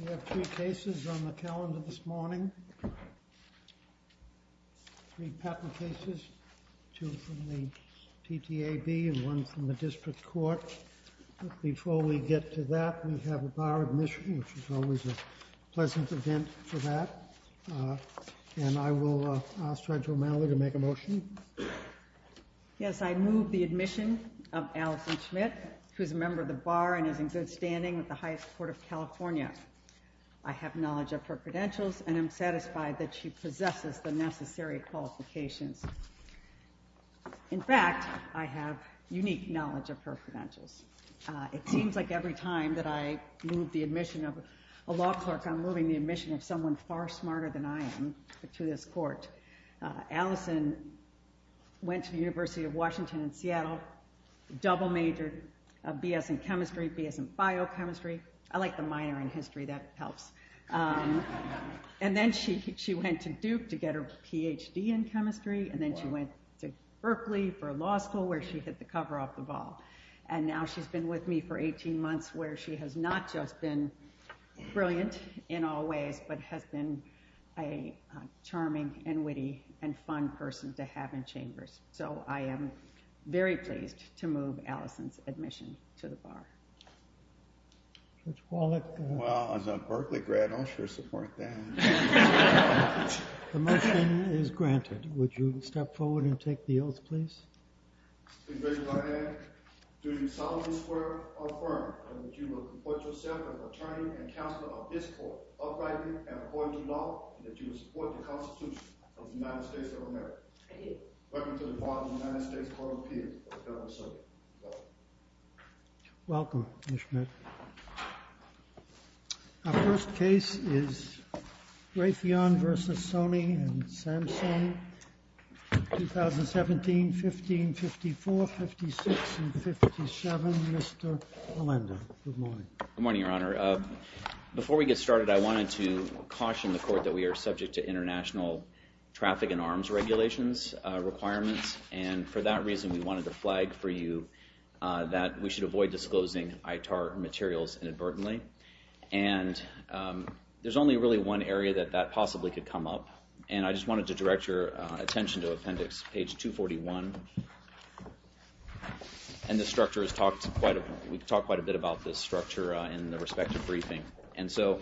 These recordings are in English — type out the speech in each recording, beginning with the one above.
We have three cases on the calendar this morning. Three patent cases, two from the TTAB and one from the District Court. But before we get to that, we have a bar admission, which is always a pleasant event for that. And I will ask Dr. O'Malley to make a motion. Yes, I move the admission of Allison Schmidt, who is a member of the bar and is in good standing with the highest court of California. I have knowledge of her credentials and am satisfied that she possesses the necessary qualifications. In fact, I have unique knowledge of her credentials. It seems like every time that I move the admission of a law clerk, I'm moving the admission of someone far smarter than I am to this court. Allison went to the University of Washington in Seattle, double majored BS in chemistry, BS in biochemistry. I like the minor in history, that helps. And then she went to Duke to get her PhD in chemistry and then she went to Berkeley for law school where she hit the cover off the ball. And now she's been with me for 18 months where she has not just been brilliant in all ways, but has been a charming and witty and fun person to have in chambers. So I am very pleased to move Allison's admission to the bar. Well, as a Berkeley grad, I'll sure support that. The motion is granted. Would you step forward and take the oath, please? I take the oath. Do you solemnly swear or affirm that you will report yourself as attorney and counselor of this court, uprightly and according to law, and that you will support the Constitution of the United States of America? I do. Welcome to the Department of the United States Court of Appeals. Welcome, Ms. Schmidt. Our first case is Raytheon v. Sony and Samsung, 2017-15, 54, 56, and 57. Mr. Olenda, good morning. Good morning, Your Honor. Before we get started, I wanted to caution the court that we are subject to international traffic and arms regulations requirements. And for that reason, we wanted to flag for you that we should avoid disclosing ITAR materials inadvertently. And there's only really one area that that possibly could come up. And I just wanted to direct your attention to appendix page 241. And the structure is talked quite a bit about this structure in the respective briefing. And so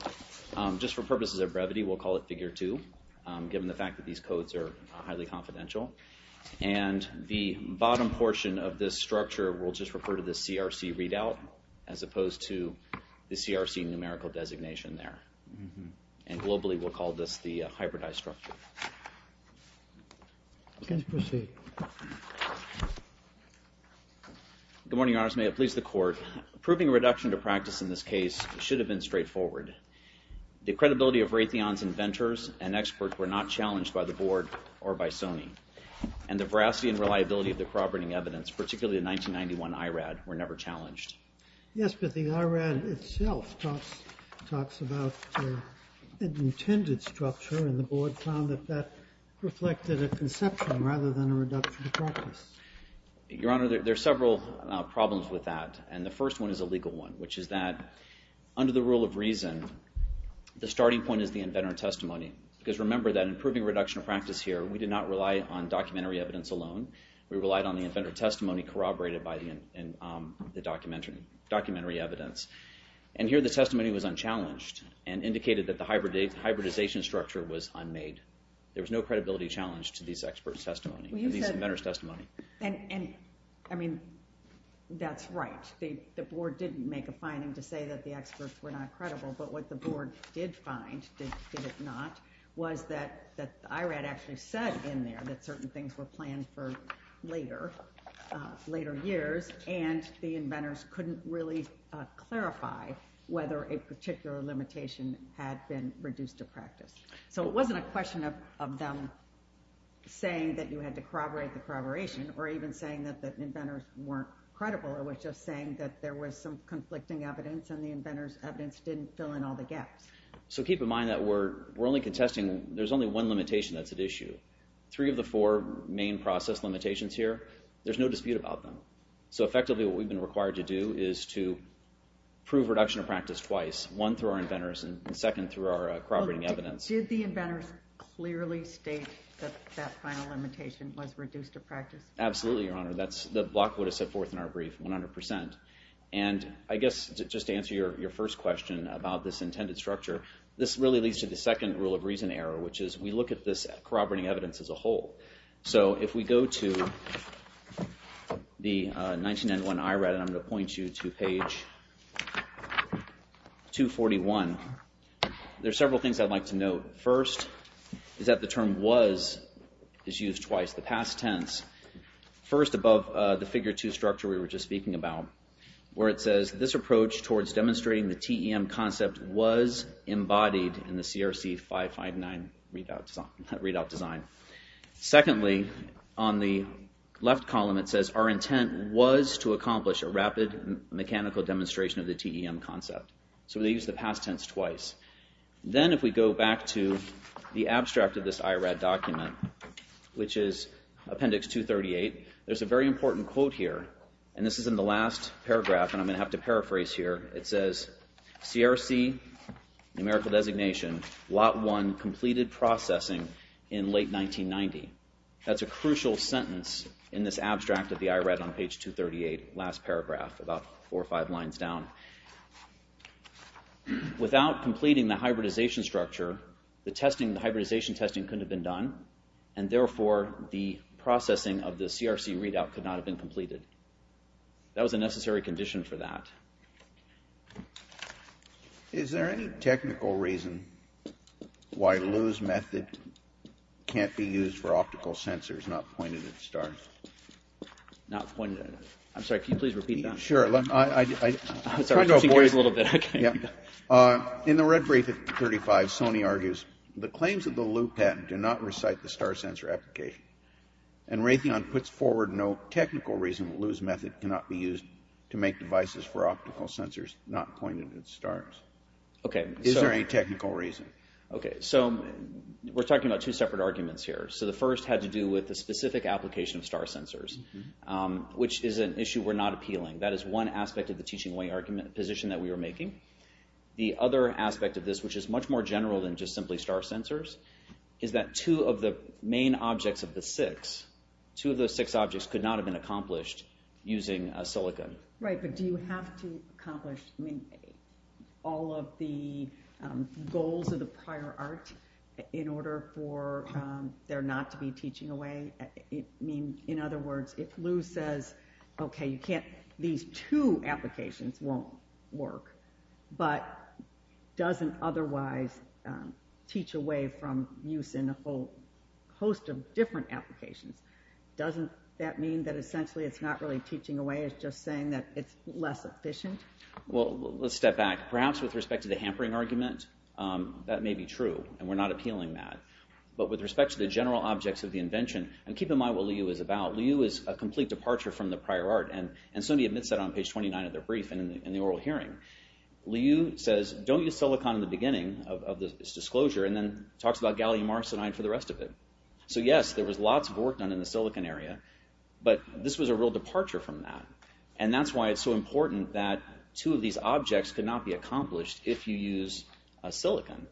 just for purposes of brevity, we'll call it figure two, given the fact that these codes are highly confidential. And the bottom portion of this structure, we'll just refer to the CRC readout, as opposed to the CRC numerical designation there. And globally, we'll call this the hybridized structure. Good morning, Your Honors. May it please the court. Approving a reduction to practice in this case should have been straightforward. The credibility of Raytheon's inventors and experts were not challenged by the board or by Sony. And the veracity and reliability of the corroborating evidence, particularly the 1991 IRAD, were never challenged. Yes, but the IRAD itself talks about an intended structure. And the board found that that reflected a conception rather than a reduction to practice. Your Honor, there are several problems with that. And the first one is a legal one, which is that under the rule of reason, the starting point is the inventor testimony. Because remember that in approving reduction to practice here, we did not rely on documentary evidence alone. We relied on the inventor testimony corroborated by the documentary evidence. And here, the testimony was unchallenged and indicated that the hybridization structure was unmade. There was no credibility challenge to these expert The board didn't make a finding to say that the experts were not credible. But what the board did find, did it not, was that the IRAD actually said in there that certain things were planned for later, later years, and the inventors couldn't really clarify whether a particular limitation had been reduced to practice. So it wasn't a question of them saying that you had to corroborate the corroboration or even saying that the inventors weren't credible. It was just saying that there was some conflicting evidence and the inventors evidence didn't fill in all the gaps. So keep in mind that we're only contesting, there's only one limitation that's at issue. Three of the four main process limitations here, there's no dispute about them. So effectively what we've been required to do is to prove reduction of practice twice. One through our inventors and second through our corroborating evidence. Did the inventors clearly state that that final limitation was reduced to 100%? And I guess just to answer your first question about this intended structure, this really leads to the second rule of reason error, which is we look at this corroborating evidence as a whole. So if we go to the 1991 IRAD, and I'm going to point you to page 241, there's several things I'd like to note. First, is that the term was is used twice. The past tense, first above the figure two structure we were just speaking about, where it says this approach towards demonstrating the TEM concept was embodied in the CRC 559 readout design. Secondly, on the left column it says our intent was to accomplish a rapid mechanical demonstration of the TEM concept. So they used the past tense twice. Then if we go back to the abstract of this IRAD document, which is appendix 238, there's a very important quote here. And this is in the last paragraph, and I'm going to have to paraphrase here. It says, CRC, numerical designation, lot one completed processing in late 1990. That's a crucial sentence in this abstract of the IRAD on page 238, last paragraph, about four or five lines down. Without completing the hybridization structure, the hybridization testing couldn't have been done, and therefore the processing of the CRC readout could not have been completed. That was a necessary condition for that. Is there any technical reason why Lou's method can't be used for optical sensors, not pointed at stars? I'm sorry, can you please repeat that? Sure. In the red brief at 35, Sony argues, the claims of the Lou patent do not recite the star sensor application. And Raytheon puts forward no technical reason why Lou's method cannot be used to make devices for optical sensors, not pointed at stars. Is there any technical reason? Okay, so we're talking about two separate arguments here. So the first had to do with the specific application of star sensors, which is an issue we're not appealing. That is one aspect of the teaching way position that we are making. The other aspect of this, which is much more general than just simply star sensors, is that two of the main objects of the six, two of the six objects could not have been accomplished using a silicon. Right, but do you have to accomplish all of the goals of the prior art in order for there not to be teaching away? In other words, if Lou says, okay, these two applications won't work, but doesn't otherwise teach away from use in a whole host of different applications, doesn't that mean that essentially it's not really teaching away, it's just saying that it's less efficient? Well, let's step back. Perhaps with respect to the hampering argument, that may be true, and we're not appealing that. But with respect to the general objects of the invention, and keep in mind what Lou is about, Lou is a complete departure from the prior art, and somebody admits that on page 29 of their brief and in the oral hearing. Lou says, don't use silicon in the beginning of this disclosure, and then talks about gallium arsenide for the rest of it. So yes, there was lots of work done in the silicon area, but this was a real departure from that, and that's why it's so important that two of these objects could not be accomplished if you use a silicon.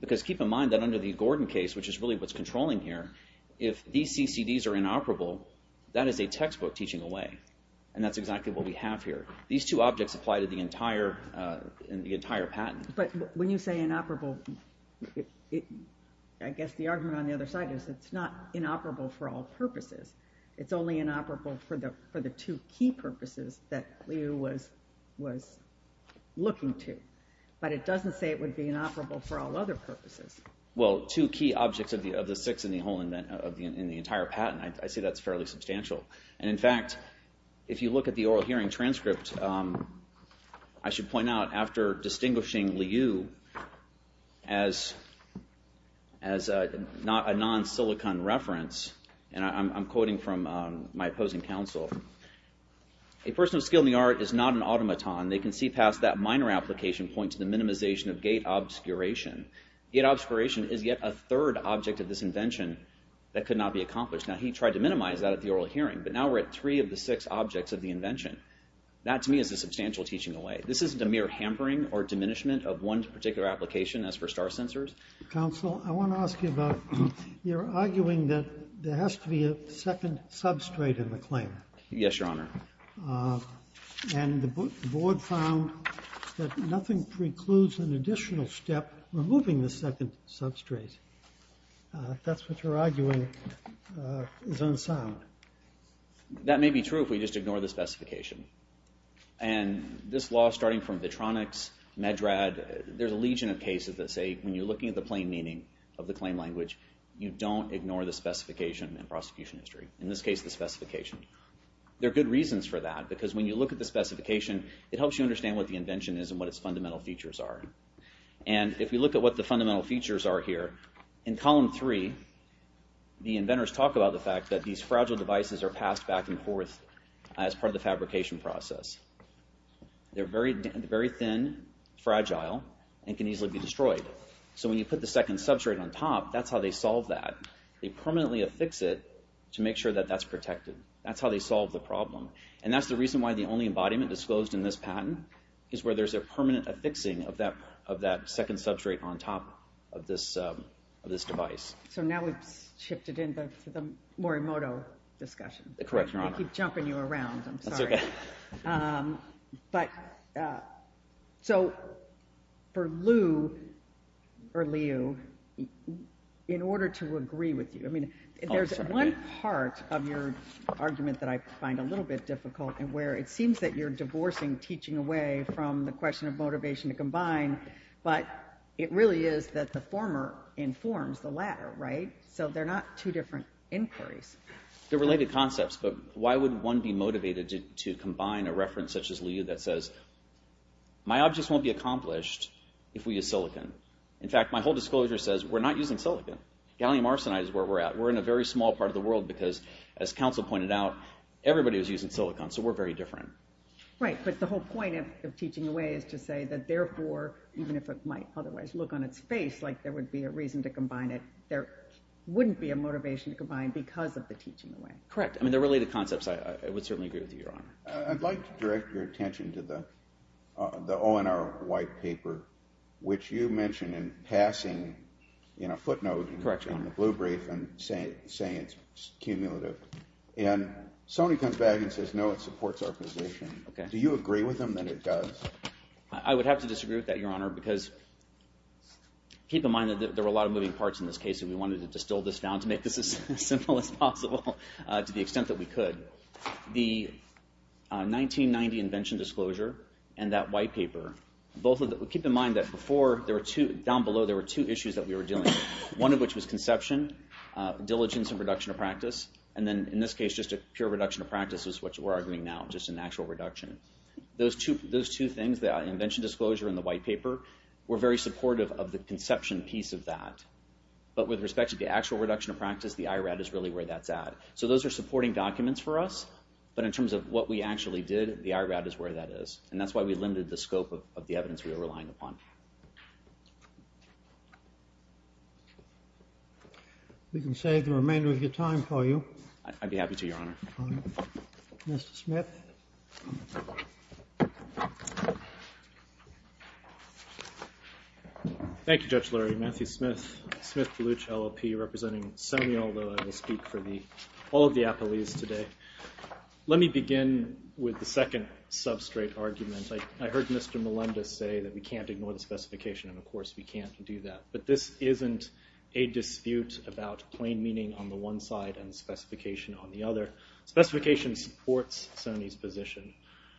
Because keep in mind that under the Gordon case, which is really what's controlling here, if these CCDs are inoperable, that is a textbook teaching away, and that's exactly what we have here. These two objects apply to the entire patent. But when you say inoperable, I guess the argument on the other side is it's not inoperable for all purposes. It's only inoperable for the two key purposes that Lou was looking to. But it doesn't say it would be inoperable for all other purposes. Well, two key objects of the six in the whole, in the entire patent, I see that's fairly substantial. And in fact, if you look at the oral hearing transcript, I should point out after distinguishing Lou as not a non-silicon reference, and I'm quoting from my opposing counsel, a person of skill in the art is not an automaton. They can see past that minor application point to the minimization of gate obscuration. Gate obscuration is yet a third object of this invention that could not be accomplished. Now, he tried to minimize that at the oral hearing, but now we're at three of the six objects of the invention. That to me is a substantial teaching away. This isn't a mere hampering or diminishment of one particular application as for star sensors. Counsel, I want to ask you about, you're arguing that there has to be a second substrate in the claim. Yes, Your Honor. And the board found that nothing precludes an additional step removing the second substrate. That's what you're arguing is unsound. That may be true if we just ignore the specification. And this law, starting from Vitronics, Medrad, there's a legion of cases that say when you're looking at the plain meaning of the claim language, you don't ignore the specification in prosecution history. In this case, the specification. There are good reasons for that, because when you look at the specification, it helps you understand what the invention is and what its fundamental features are. And if we look at what the fundamental features are here, in column three, the inventors talk about the fact that these fragile devices are passed back and forth as part of the fabrication process. They're very thin, fragile, and can easily be destroyed. So when you put the second substrate on top, that's how they solve that. They permanently affix it to make sure that that's protected. That's how they solve the problem. And that's the reason why the only embodiment disclosed in this patent is where there's a permanent affixing of that second substrate on top of this device. So now we've shifted into the Morimoto discussion. Correct, Your Honor. I keep jumping you around. I'm sorry. That's okay. So for Liu, in order to agree with you, I mean, there's one part of your argument that I find a little bit difficult and where it seems that you're divorcing teaching away from the question of motivation to combine, but it really is that the former informs the latter, right? So they're not two different inquiries. They're related concepts, but why would one be motivated to combine a reference such as Liu that says, my objects won't be accomplished if we use silicon. In fact, my whole disclosure says we're not using silicon. Gallium arsenide is where we're at. We're in a very small part of the world because, as counsel pointed out, everybody was using silicon, so we're very different. Right, but the whole point of teaching away is to say that therefore, even if it might otherwise look on its face like there would be a reason to combine it, there wouldn't be a motivation to combine because of the teaching away. Correct. I mean, they're related concepts. I would certainly agree with you, Your Honor. I'd like to direct your attention to the ONR white paper, which you mentioned in passing footnotes in the blue brief and saying it's cumulative, and somebody comes back and says, no, it supports our position. Do you agree with them that it does? I would have to disagree with that, Your Honor, because keep in mind that there were a lot of moving parts in this case, and we wanted to distill this down to make this as simple as possible to the extent that we could. The 1990 invention disclosure and that white paper, both of them, keep in mind that before, down below, there were two issues that we were dealing with, one of which was conception, diligence, and reduction of practice, and then, in this case, just a pure reduction of practice is what we're arguing now, just an actual reduction. Those two things, the invention disclosure and the white paper, were very supportive of the conception piece of that, but with respect to the actual reduction of practice, the IRAD is really where that's at. So those are supporting documents for us, but in terms of what we actually did, the IRAD is where that is, and that's why we limited the scope of the evidence we were relying upon. We can save the remainder of your time for you. I'd be happy to, Your Honor. Mr. Smith. Thank you, Judge Lurie. Matthew Smith, Smith-Palooch LLP, representing SEMI, although I will speak for all of the appellees today. Let me begin with the second substrate argument. I heard Mr. Melendez say that we can't ignore the specification, and of course we can't do that, but this isn't a dispute about plain meaning on the one side and specification on the other. Specification supports Sony's position.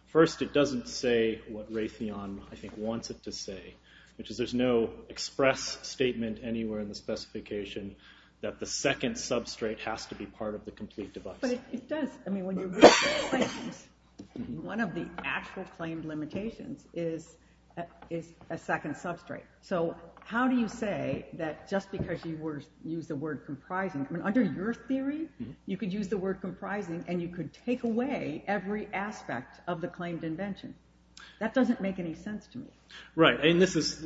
First, it doesn't say what Raytheon wants it to say, which is there's no express statement anywhere in the specification that the second substrate has to be part of the complete device. But it does. One of the actual claimed limitations is a second substrate. So how do you say that just because you used the word comprising? Under your theory, you could use the word comprising, and you could take away every aspect of the claimed invention. That doesn't make any sense to me. Right, and this is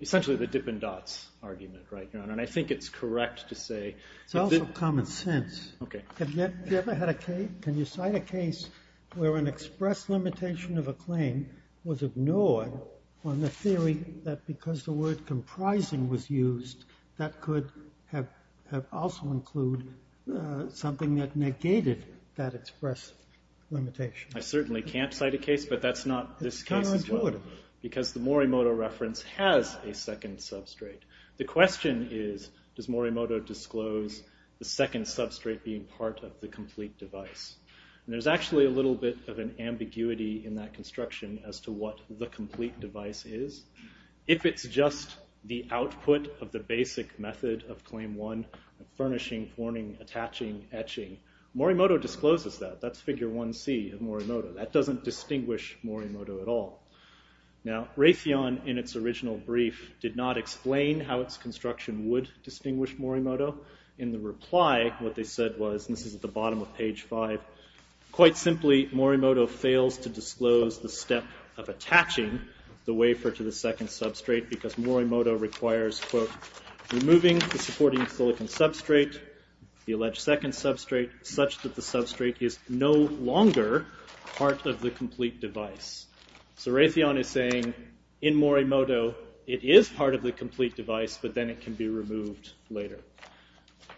essentially the dip and dots argument, and I think it's correct to say... It's also common sense. Okay. Have you ever had a case, can you cite a case where an express limitation of a claim was that could have also include something that negated that express limitation? I certainly can't cite a case, but that's not this case as well. It's counterintuitive. Because the Morimoto reference has a second substrate. The question is, does Morimoto disclose the second substrate being part of the complete device? And there's actually a little bit of an ambiguity in that construction as to what the complete device is. If it's just the output of the basic method of claim one, furnishing, forming, attaching, etching, Morimoto discloses that. That's figure 1C of Morimoto. That doesn't distinguish Morimoto at all. Now, Raytheon, in its original brief, did not explain how its construction would distinguish Morimoto. In the reply, what they said was, and this is at the bottom of page five, quite simply, Morimoto fails to disclose the step of attaching the wafer to the second substrate, because Morimoto requires, quote, removing the supporting silicon substrate, the alleged second substrate, such that the substrate is no longer part of the complete device. So Raytheon is saying, in Morimoto, it is part of the complete device, but then it can be removed later.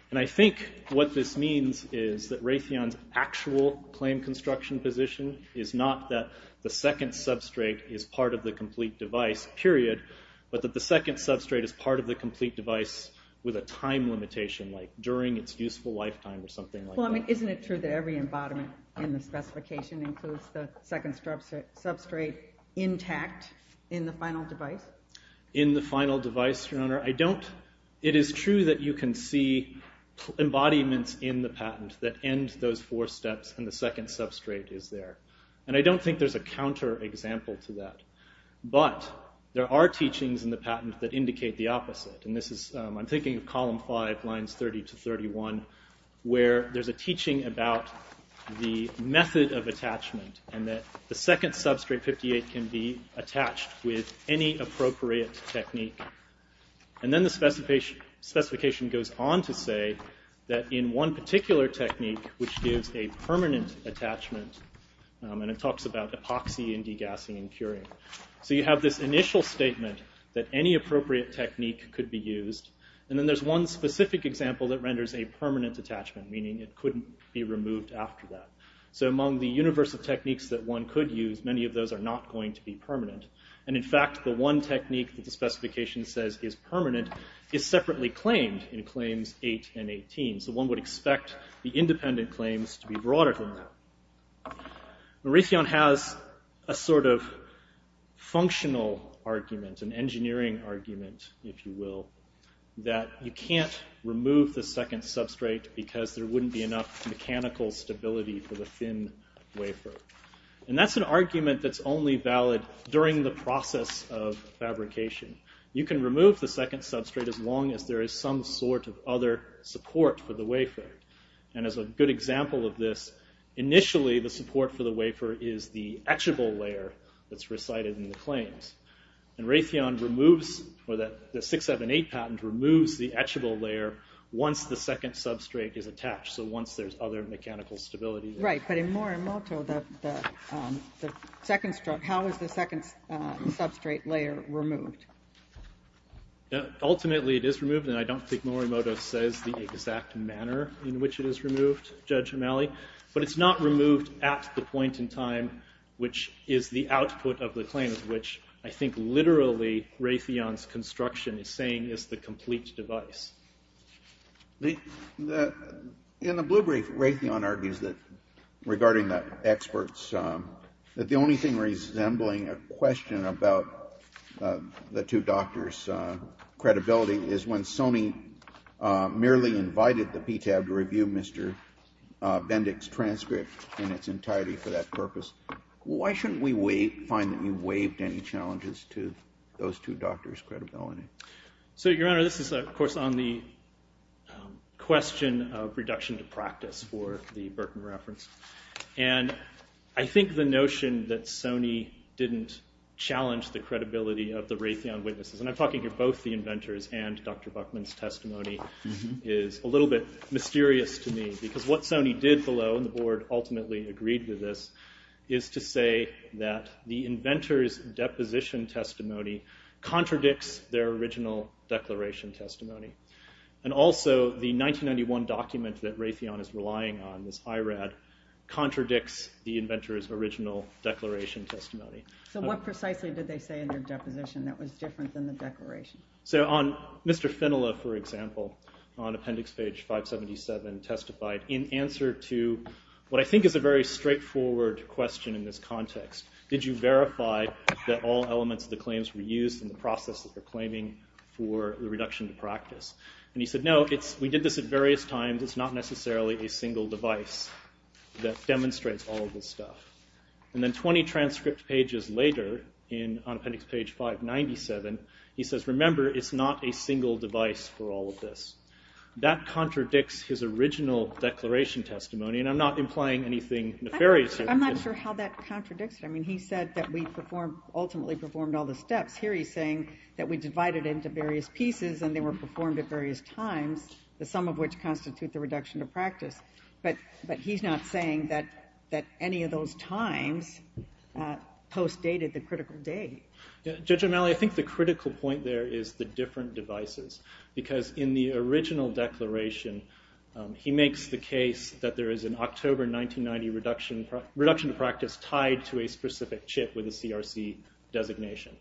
And I think what this means is that Raytheon's actual claim construction position is not that the second substrate is part of the complete device, period, but that the second substrate is part of the complete device with a time limitation, like during its useful lifetime, or something like that. Well, isn't it true that every embodiment in the specification includes the second substrate intact in the final device? In the final device, Your Honor, it is true that you can see embodiments in the patent that end those four steps, and the second substrate is there. And I don't think there's a counterexample to that. But there are teachings in the patent that indicate the opposite. And this is, I'm thinking of column five, lines 30 to 31, where there's a teaching about the method of attachment, and that the second substrate, 58, can be attached with any appropriate technique. And then the specification goes on to say that in one particular technique, which gives a permanent attachment, and it talks about epoxy and degassing and curing. So you have this initial statement that any appropriate technique could be used, and then there's one specific example that renders a permanent attachment, meaning it couldn't be removed after that. So among the universe of techniques that one could use, many of those are not going to be permanent. And in fact, the one technique that the specification says is permanent is separately claimed in claims eight and 18. So one would expect the independent claims to be broader than that. Mauritian has a sort of functional argument, an engineering argument, if you will, that you can't remove the second substrate because there wouldn't be enough mechanical stability for the thin wafer. And that's an argument that's only valid during the process of fabrication. You can remove the second substrate as long as there is some sort of other support for the wafer. And as a good example of this, initially the support for the wafer is the etchable layer that's recited in the claims. And Raytheon removes, or the 678 patent removes the etchable layer once the second substrate is attached, so once there's other mechanical stability. Right. But in Morimoto, the second, how is the second substrate layer removed? Ultimately, it is removed, and I don't think Morimoto says the exact manner in which it is removed, Judge O'Malley, but it's not removed at the point in time which is the output of the claims, which I think literally Raytheon's construction is saying is the complete device. In the blue brief, Raytheon argues that, regarding the experts, that the only thing resembling a question about the two doctors' credibility is when Sony merely invited the PTAB to review Mr. Bendick's transcript in its entirety for that purpose. Why shouldn't we find that you waived any challenges to those two doctors' credibility? So, Your Honor, this is, of course, on the question of reduction to practice for the Berkman reference, and I think the notion that Sony didn't challenge the credibility of the Raytheon witnesses, and I'm talking to both the inventors and Dr. Buckman's testimony, is a little bit mysterious to me, because what Sony did below, and the board ultimately agreed to this, is to say that the inventors' deposition testimony contradicts their original declaration testimony, and also the 1991 document that Raytheon is relying on, this IRAD, contradicts the inventors' original declaration testimony. So what precisely did they say in their deposition that was different than the declaration? So on Mr. Finola, for example, on appendix page 577, testified in answer to what I think is a very straightforward question in this context. Did you verify that all elements of the claims were used in the process that they're claiming for the reduction to practice? And he said, no, we did this at various times, it's not necessarily a single device that demonstrates all of this stuff. And then 20 transcript pages later, on appendix page 597, he says, remember, it's not a single device for all of this. That contradicts his original declaration testimony, and I'm not implying anything nefarious. I'm not sure how that contradicts it. I mean, he said that we ultimately performed all the steps. Here he's saying that we divided into various pieces, and they were performed at various times, the sum of which constitute the reduction to practice. But he's not saying that any of those times post-dated the critical date. Judge O'Malley, I think the critical point there is the different devices, because in the original declaration, he makes the case that there is an October 1990 reduction to practice tied to a specific chip with a CRC designation.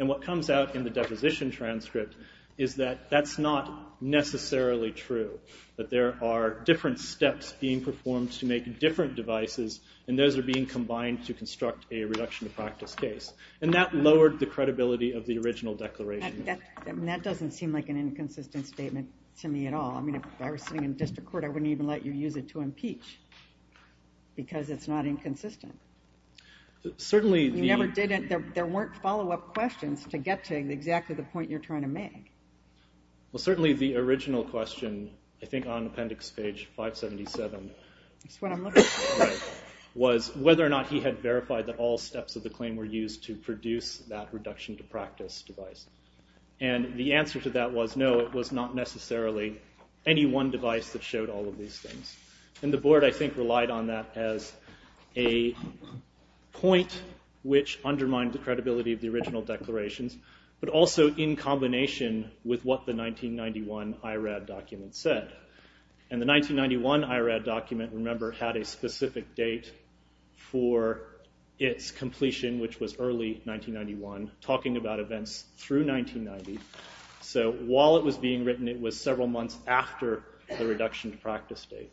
And what comes out in the deposition transcript is that that's not necessarily true, that there are different steps being performed to make different devices, and those are being combined to construct a reduction to practice case. And that lowered the credibility of the original declaration. That doesn't seem like an inconsistent statement to me at all. I mean, if I were sitting in district court, I wouldn't even let you use it to impeach, because it's not inconsistent. You never did it. There weren't follow-up questions to get to exactly the point you're trying to make. Well, certainly the original question, I think on appendix page 577, was whether or not he had verified that all steps of the claim were used to produce that reduction to practice device. And the answer to that was no, it was not necessarily any one device that showed all of these things. And the board, I think, relied on that as a point which undermined the credibility of the original declarations, but also in combination with what the 1991 IRAD document said. And the 1991 IRAD document, remember, had a specific date for its completion, which was early 1991, talking about events through 1990. So while it was being written, it was several months after the reduction to practice date.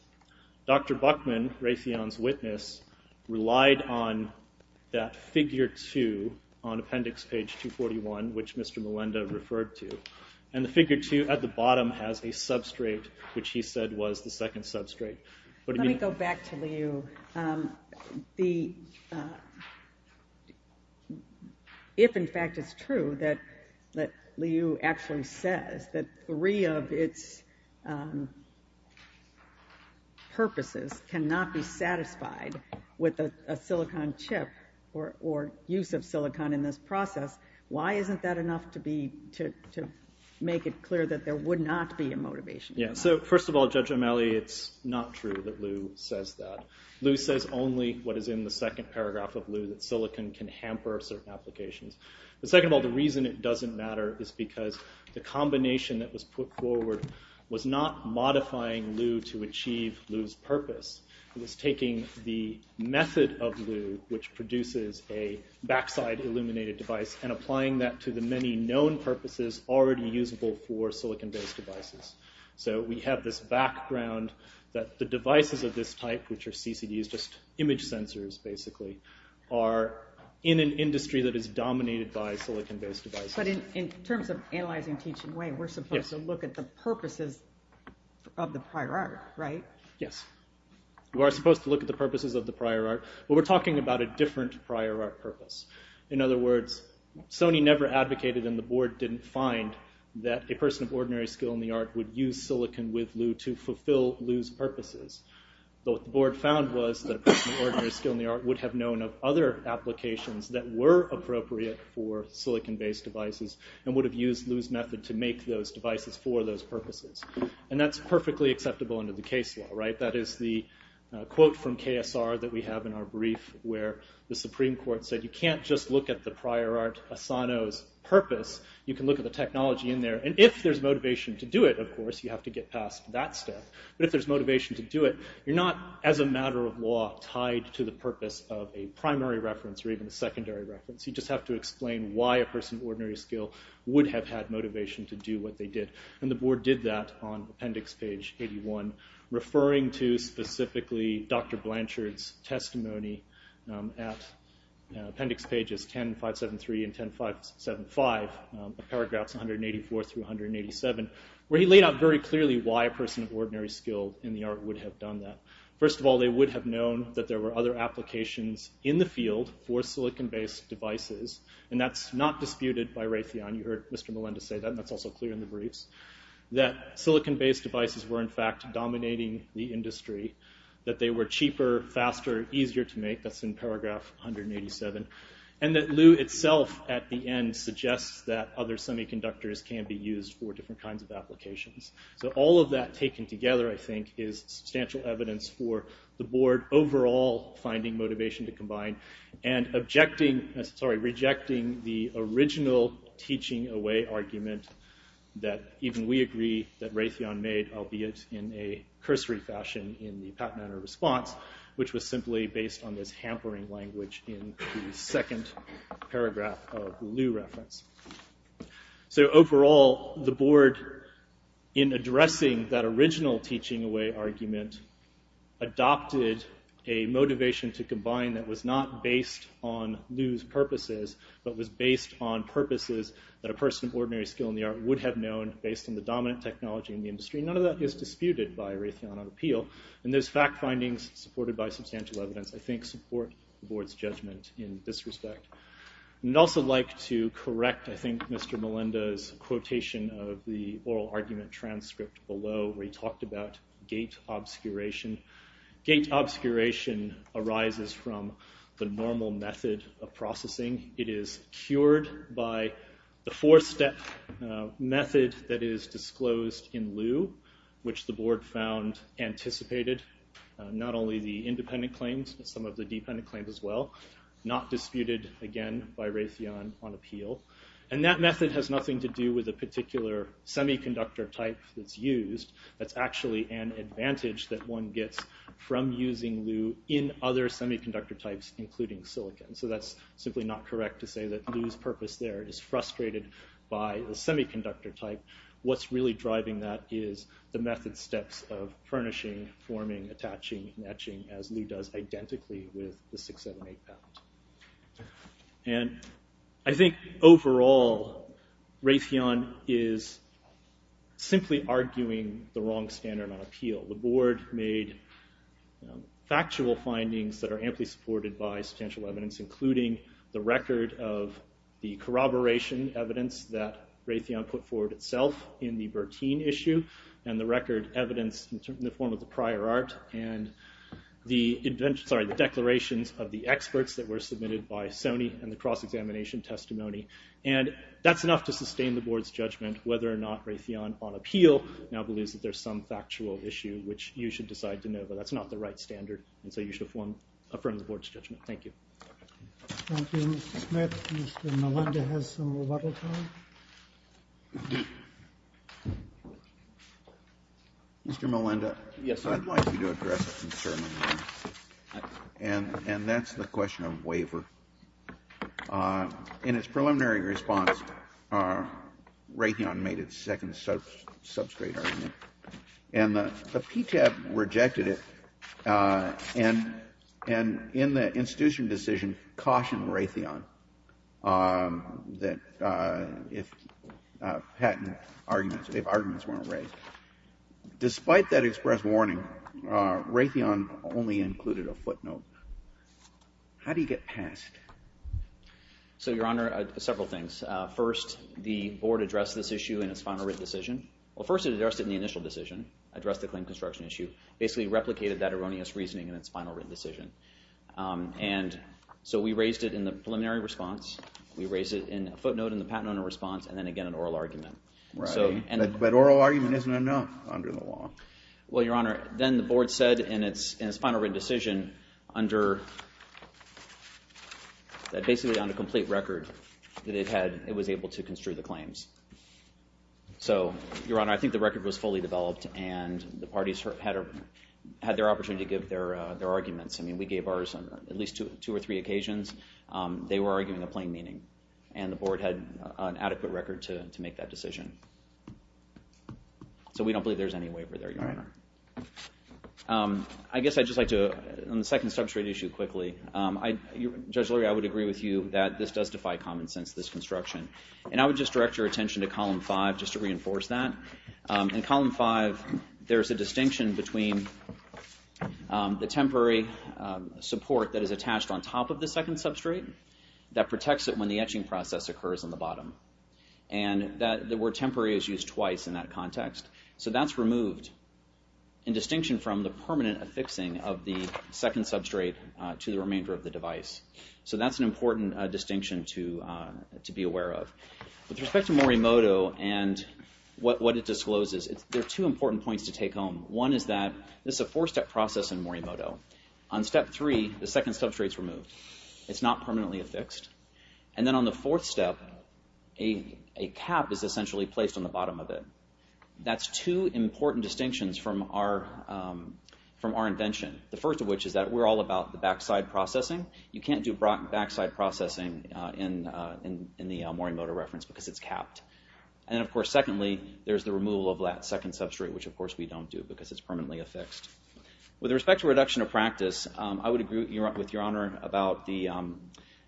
Dr. Buckman, Raytheon's witness, relied on that figure 2 on appendix page 241, which Mr. Melinda referred to. And the figure 2 at the bottom has a substrate, which he said was the second substrate. Let me go back to Liu. If, in fact, it's true that Liu actually says that three of its purposes cannot be satisfied with a silicon chip or use of silicon in this process, why isn't that enough to make it clear that there would not be a motivation? Yeah, so first of all, Judge O'Malley, it's not true that Liu says that. Liu says only what is in the second paragraph of Liu, that silicon can hamper certain applications. But second of all, the reason it doesn't matter is because the combination that was put forward was not modifying Liu to achieve Liu's purpose. It was taking the method of Liu, which produces a backside illuminated device, and applying that to the many known purposes already usable for silicon-based devices. So we have this background that the devices of this type, which are CCDs, just image sensors basically, are in an industry that is dominated by silicon-based devices. But in terms of analyzing teaching way, we're supposed to look at the purposes of the prior art, right? Yes. We are supposed to look at the purposes of the prior art, but we're talking about a different prior art purpose. In other words, Sony never advocated, and the board didn't find, that a person of ordinary skill in the art would use silicon with Liu to fulfill Liu's purposes. What the board found was that a person of ordinary skill in the art would have known of other applications that were appropriate for silicon-based devices, and would have used Liu's method to make those devices for those purposes. And that's perfectly acceptable under the case law, right? That is the quote from KSR that we have in our brief, where the Supreme Court said, you can't just look at the prior art, Asano's purpose. You can look at the technology in there. And if there's motivation to do it, of course, you have to get past that step. But if there's motivation to do it, you're not, as a matter of law, tied to the purpose of a primary reference or even a secondary reference. You just have to explain why a person of ordinary skill would have had motivation to do what they did. And the board did that on appendix page 81, referring to specifically Dr. Blanchard's testimony at appendix pages 10573 and 10575, paragraphs 184 through 187, where he laid out very clearly why a person of ordinary skill in the art would have done that. First of all, they would have known that there were other applications in the field for silicon-based devices. And that's not disputed by Raytheon. You heard Mr. Melendez say that, and that's also clear in the briefs. That they were cheaper, faster, easier to make. That's in paragraph 187. And that Lew itself, at the end, suggests that other semiconductors can be used for different kinds of applications. So all of that taken together, I think, is substantial evidence for the board overall finding motivation to combine and rejecting the original teaching away argument that even we agree that Raytheon made, albeit in a cursory fashion in the Pat Manor response, which was simply based on this hampering language in the second paragraph of Lew reference. So overall, the board, in addressing that original teaching away argument, adopted a motivation to combine that was not based on Lew's purposes, but was based on purposes that a person of ordinary skill in the art would have known based on the dominant technology in the industry. None of that is disputed by Raytheon on appeal. And those fact findings, supported by substantial evidence, I think support the board's judgment in this respect. I'd also like to correct, I think, Mr. Melendez's quotation of the oral argument transcript below, where he talked about gate obscuration. Gate obscuration arises from the normal method of processing. It is cured by the four-step method that is disclosed in Lew, which the board found anticipated, not only the independent claims, but some of the dependent claims as well. Not disputed, again, by Raytheon on appeal. And that method has nothing to do with a particular semiconductor type that's used. That's actually an advantage that one gets from using Lew in other semiconductor types, including silicon. So that's simply not correct to say that Lew's purpose there is frustrated by the semiconductor type. What's really driving that is the method steps of furnishing, forming, attaching, etching, as Lew does identically with the 678 patent. And I think overall, Raytheon is simply arguing the wrong standard on appeal. The board made factual findings that are amply supported by substantial evidence, including the record of the corroboration evidence that Raytheon put forward itself in the Bertin issue, and the record evidence in the form of the prior art, and the declarations of the experts that were submitted by Sony and the cross-examination testimony. And that's enough to sustain the board's judgment whether or not Raytheon on appeal now believes that there's some factual issue, which you should decide to know. But that's not the right standard, and so you should affirm the board's judgment. Thank you. Thank you, Mr. Smith. Mr. Melinda has some rebuttal time. Mr. Melinda. Yes, sir. I'd like you to address a concern of mine, and that's the question of waiver. In its preliminary response, Raytheon made its second substrate argument, and the PTEP rejected it, and in the institution decision cautioned Raytheon that if patent arguments, if arguments weren't raised. Despite that express warning, Raytheon only included a footnote. How do you get passed? So, Your Honor, several things. First, the board addressed this issue in its final written decision. Well, first it addressed it in the initial decision, addressed the claim construction issue, basically replicated that erroneous reasoning in its final written decision. And so we raised it in the preliminary response. We raised it in a footnote in the patent owner response, and then again an oral argument. Right. But oral argument isn't enough under the law. Well, Your Honor, then the board said in its final written decision that basically on a complete record that it was able to construe the claims. So, Your Honor, I think the record was fully developed, and the parties had their opportunity to give their arguments. I mean, we gave ours on at least two or three occasions. They were arguing a plain meaning, and the board had an adequate record to make that decision. So we don't believe there's any waiver there, Your Honor. Right. I guess I'd just like to, on the second substrate issue quickly, Judge Lurie, I would agree with you that this does defy common sense, this construction. And I would just direct your attention to Column 5 just to reinforce that. In Column 5, there's a distinction between the temporary support that is attached on top of the second substrate that protects it when the etching process occurs on the bottom, and the word temporary is used twice in that context. So that's removed in distinction from the permanent affixing of the second substrate to the remainder of the device. So that's an important distinction to be aware of. With respect to Morimoto and what it discloses, there are two important points to take home. One is that this is a four-step process in Morimoto. On Step 3, the second substrate is removed. It's not permanently affixed. And then on the fourth step, a cap is essentially placed on the bottom of it. That's two important distinctions from our invention, the first of which is that we're all about the backside processing. You can't do backside processing in the Morimoto reference because it's capped. And, of course, secondly, there's the removal of that second substrate, which, of course, we don't do because it's permanently affixed. With respect to reduction of practice, I would agree with Your Honor about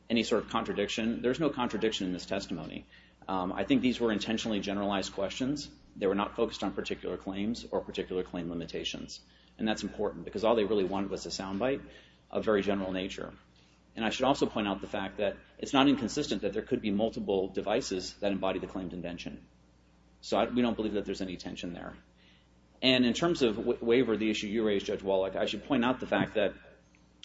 any sort of contradiction. There's no contradiction in this testimony. I think these were intentionally generalized questions. They were not focused on particular claims or particular claim limitations. And that's important because all they really wanted was a sound bite of very general nature. And I should also point out the fact that it's not inconsistent that there could be multiple devices that embody the claimed invention. So we don't believe that there's any tension there. And in terms of waiver, the issue you raised, Judge Wallach, I should point out the fact that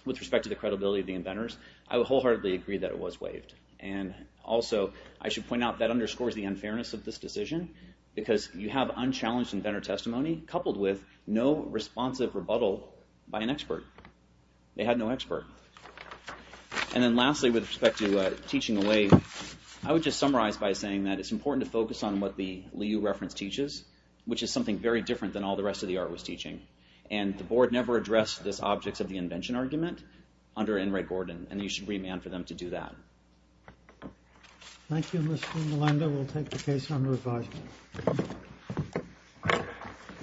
with respect to the credibility of the inventors, I wholeheartedly agree that it was waived. And also I should point out that underscores the unfairness of this decision because you have unchallenged inventor testimony coupled with no responsive rebuttal by an expert. They had no expert. And then lastly, with respect to teaching away, I would just summarize by saying that it's important to focus on what the Liu reference teaches, which is something very different than all the rest of the art was teaching. And the board never addressed this objects of the invention argument under Enright Gordon. And you should remand for them to do that. Thank you, Mr. Melendo. We'll take the case under advisement.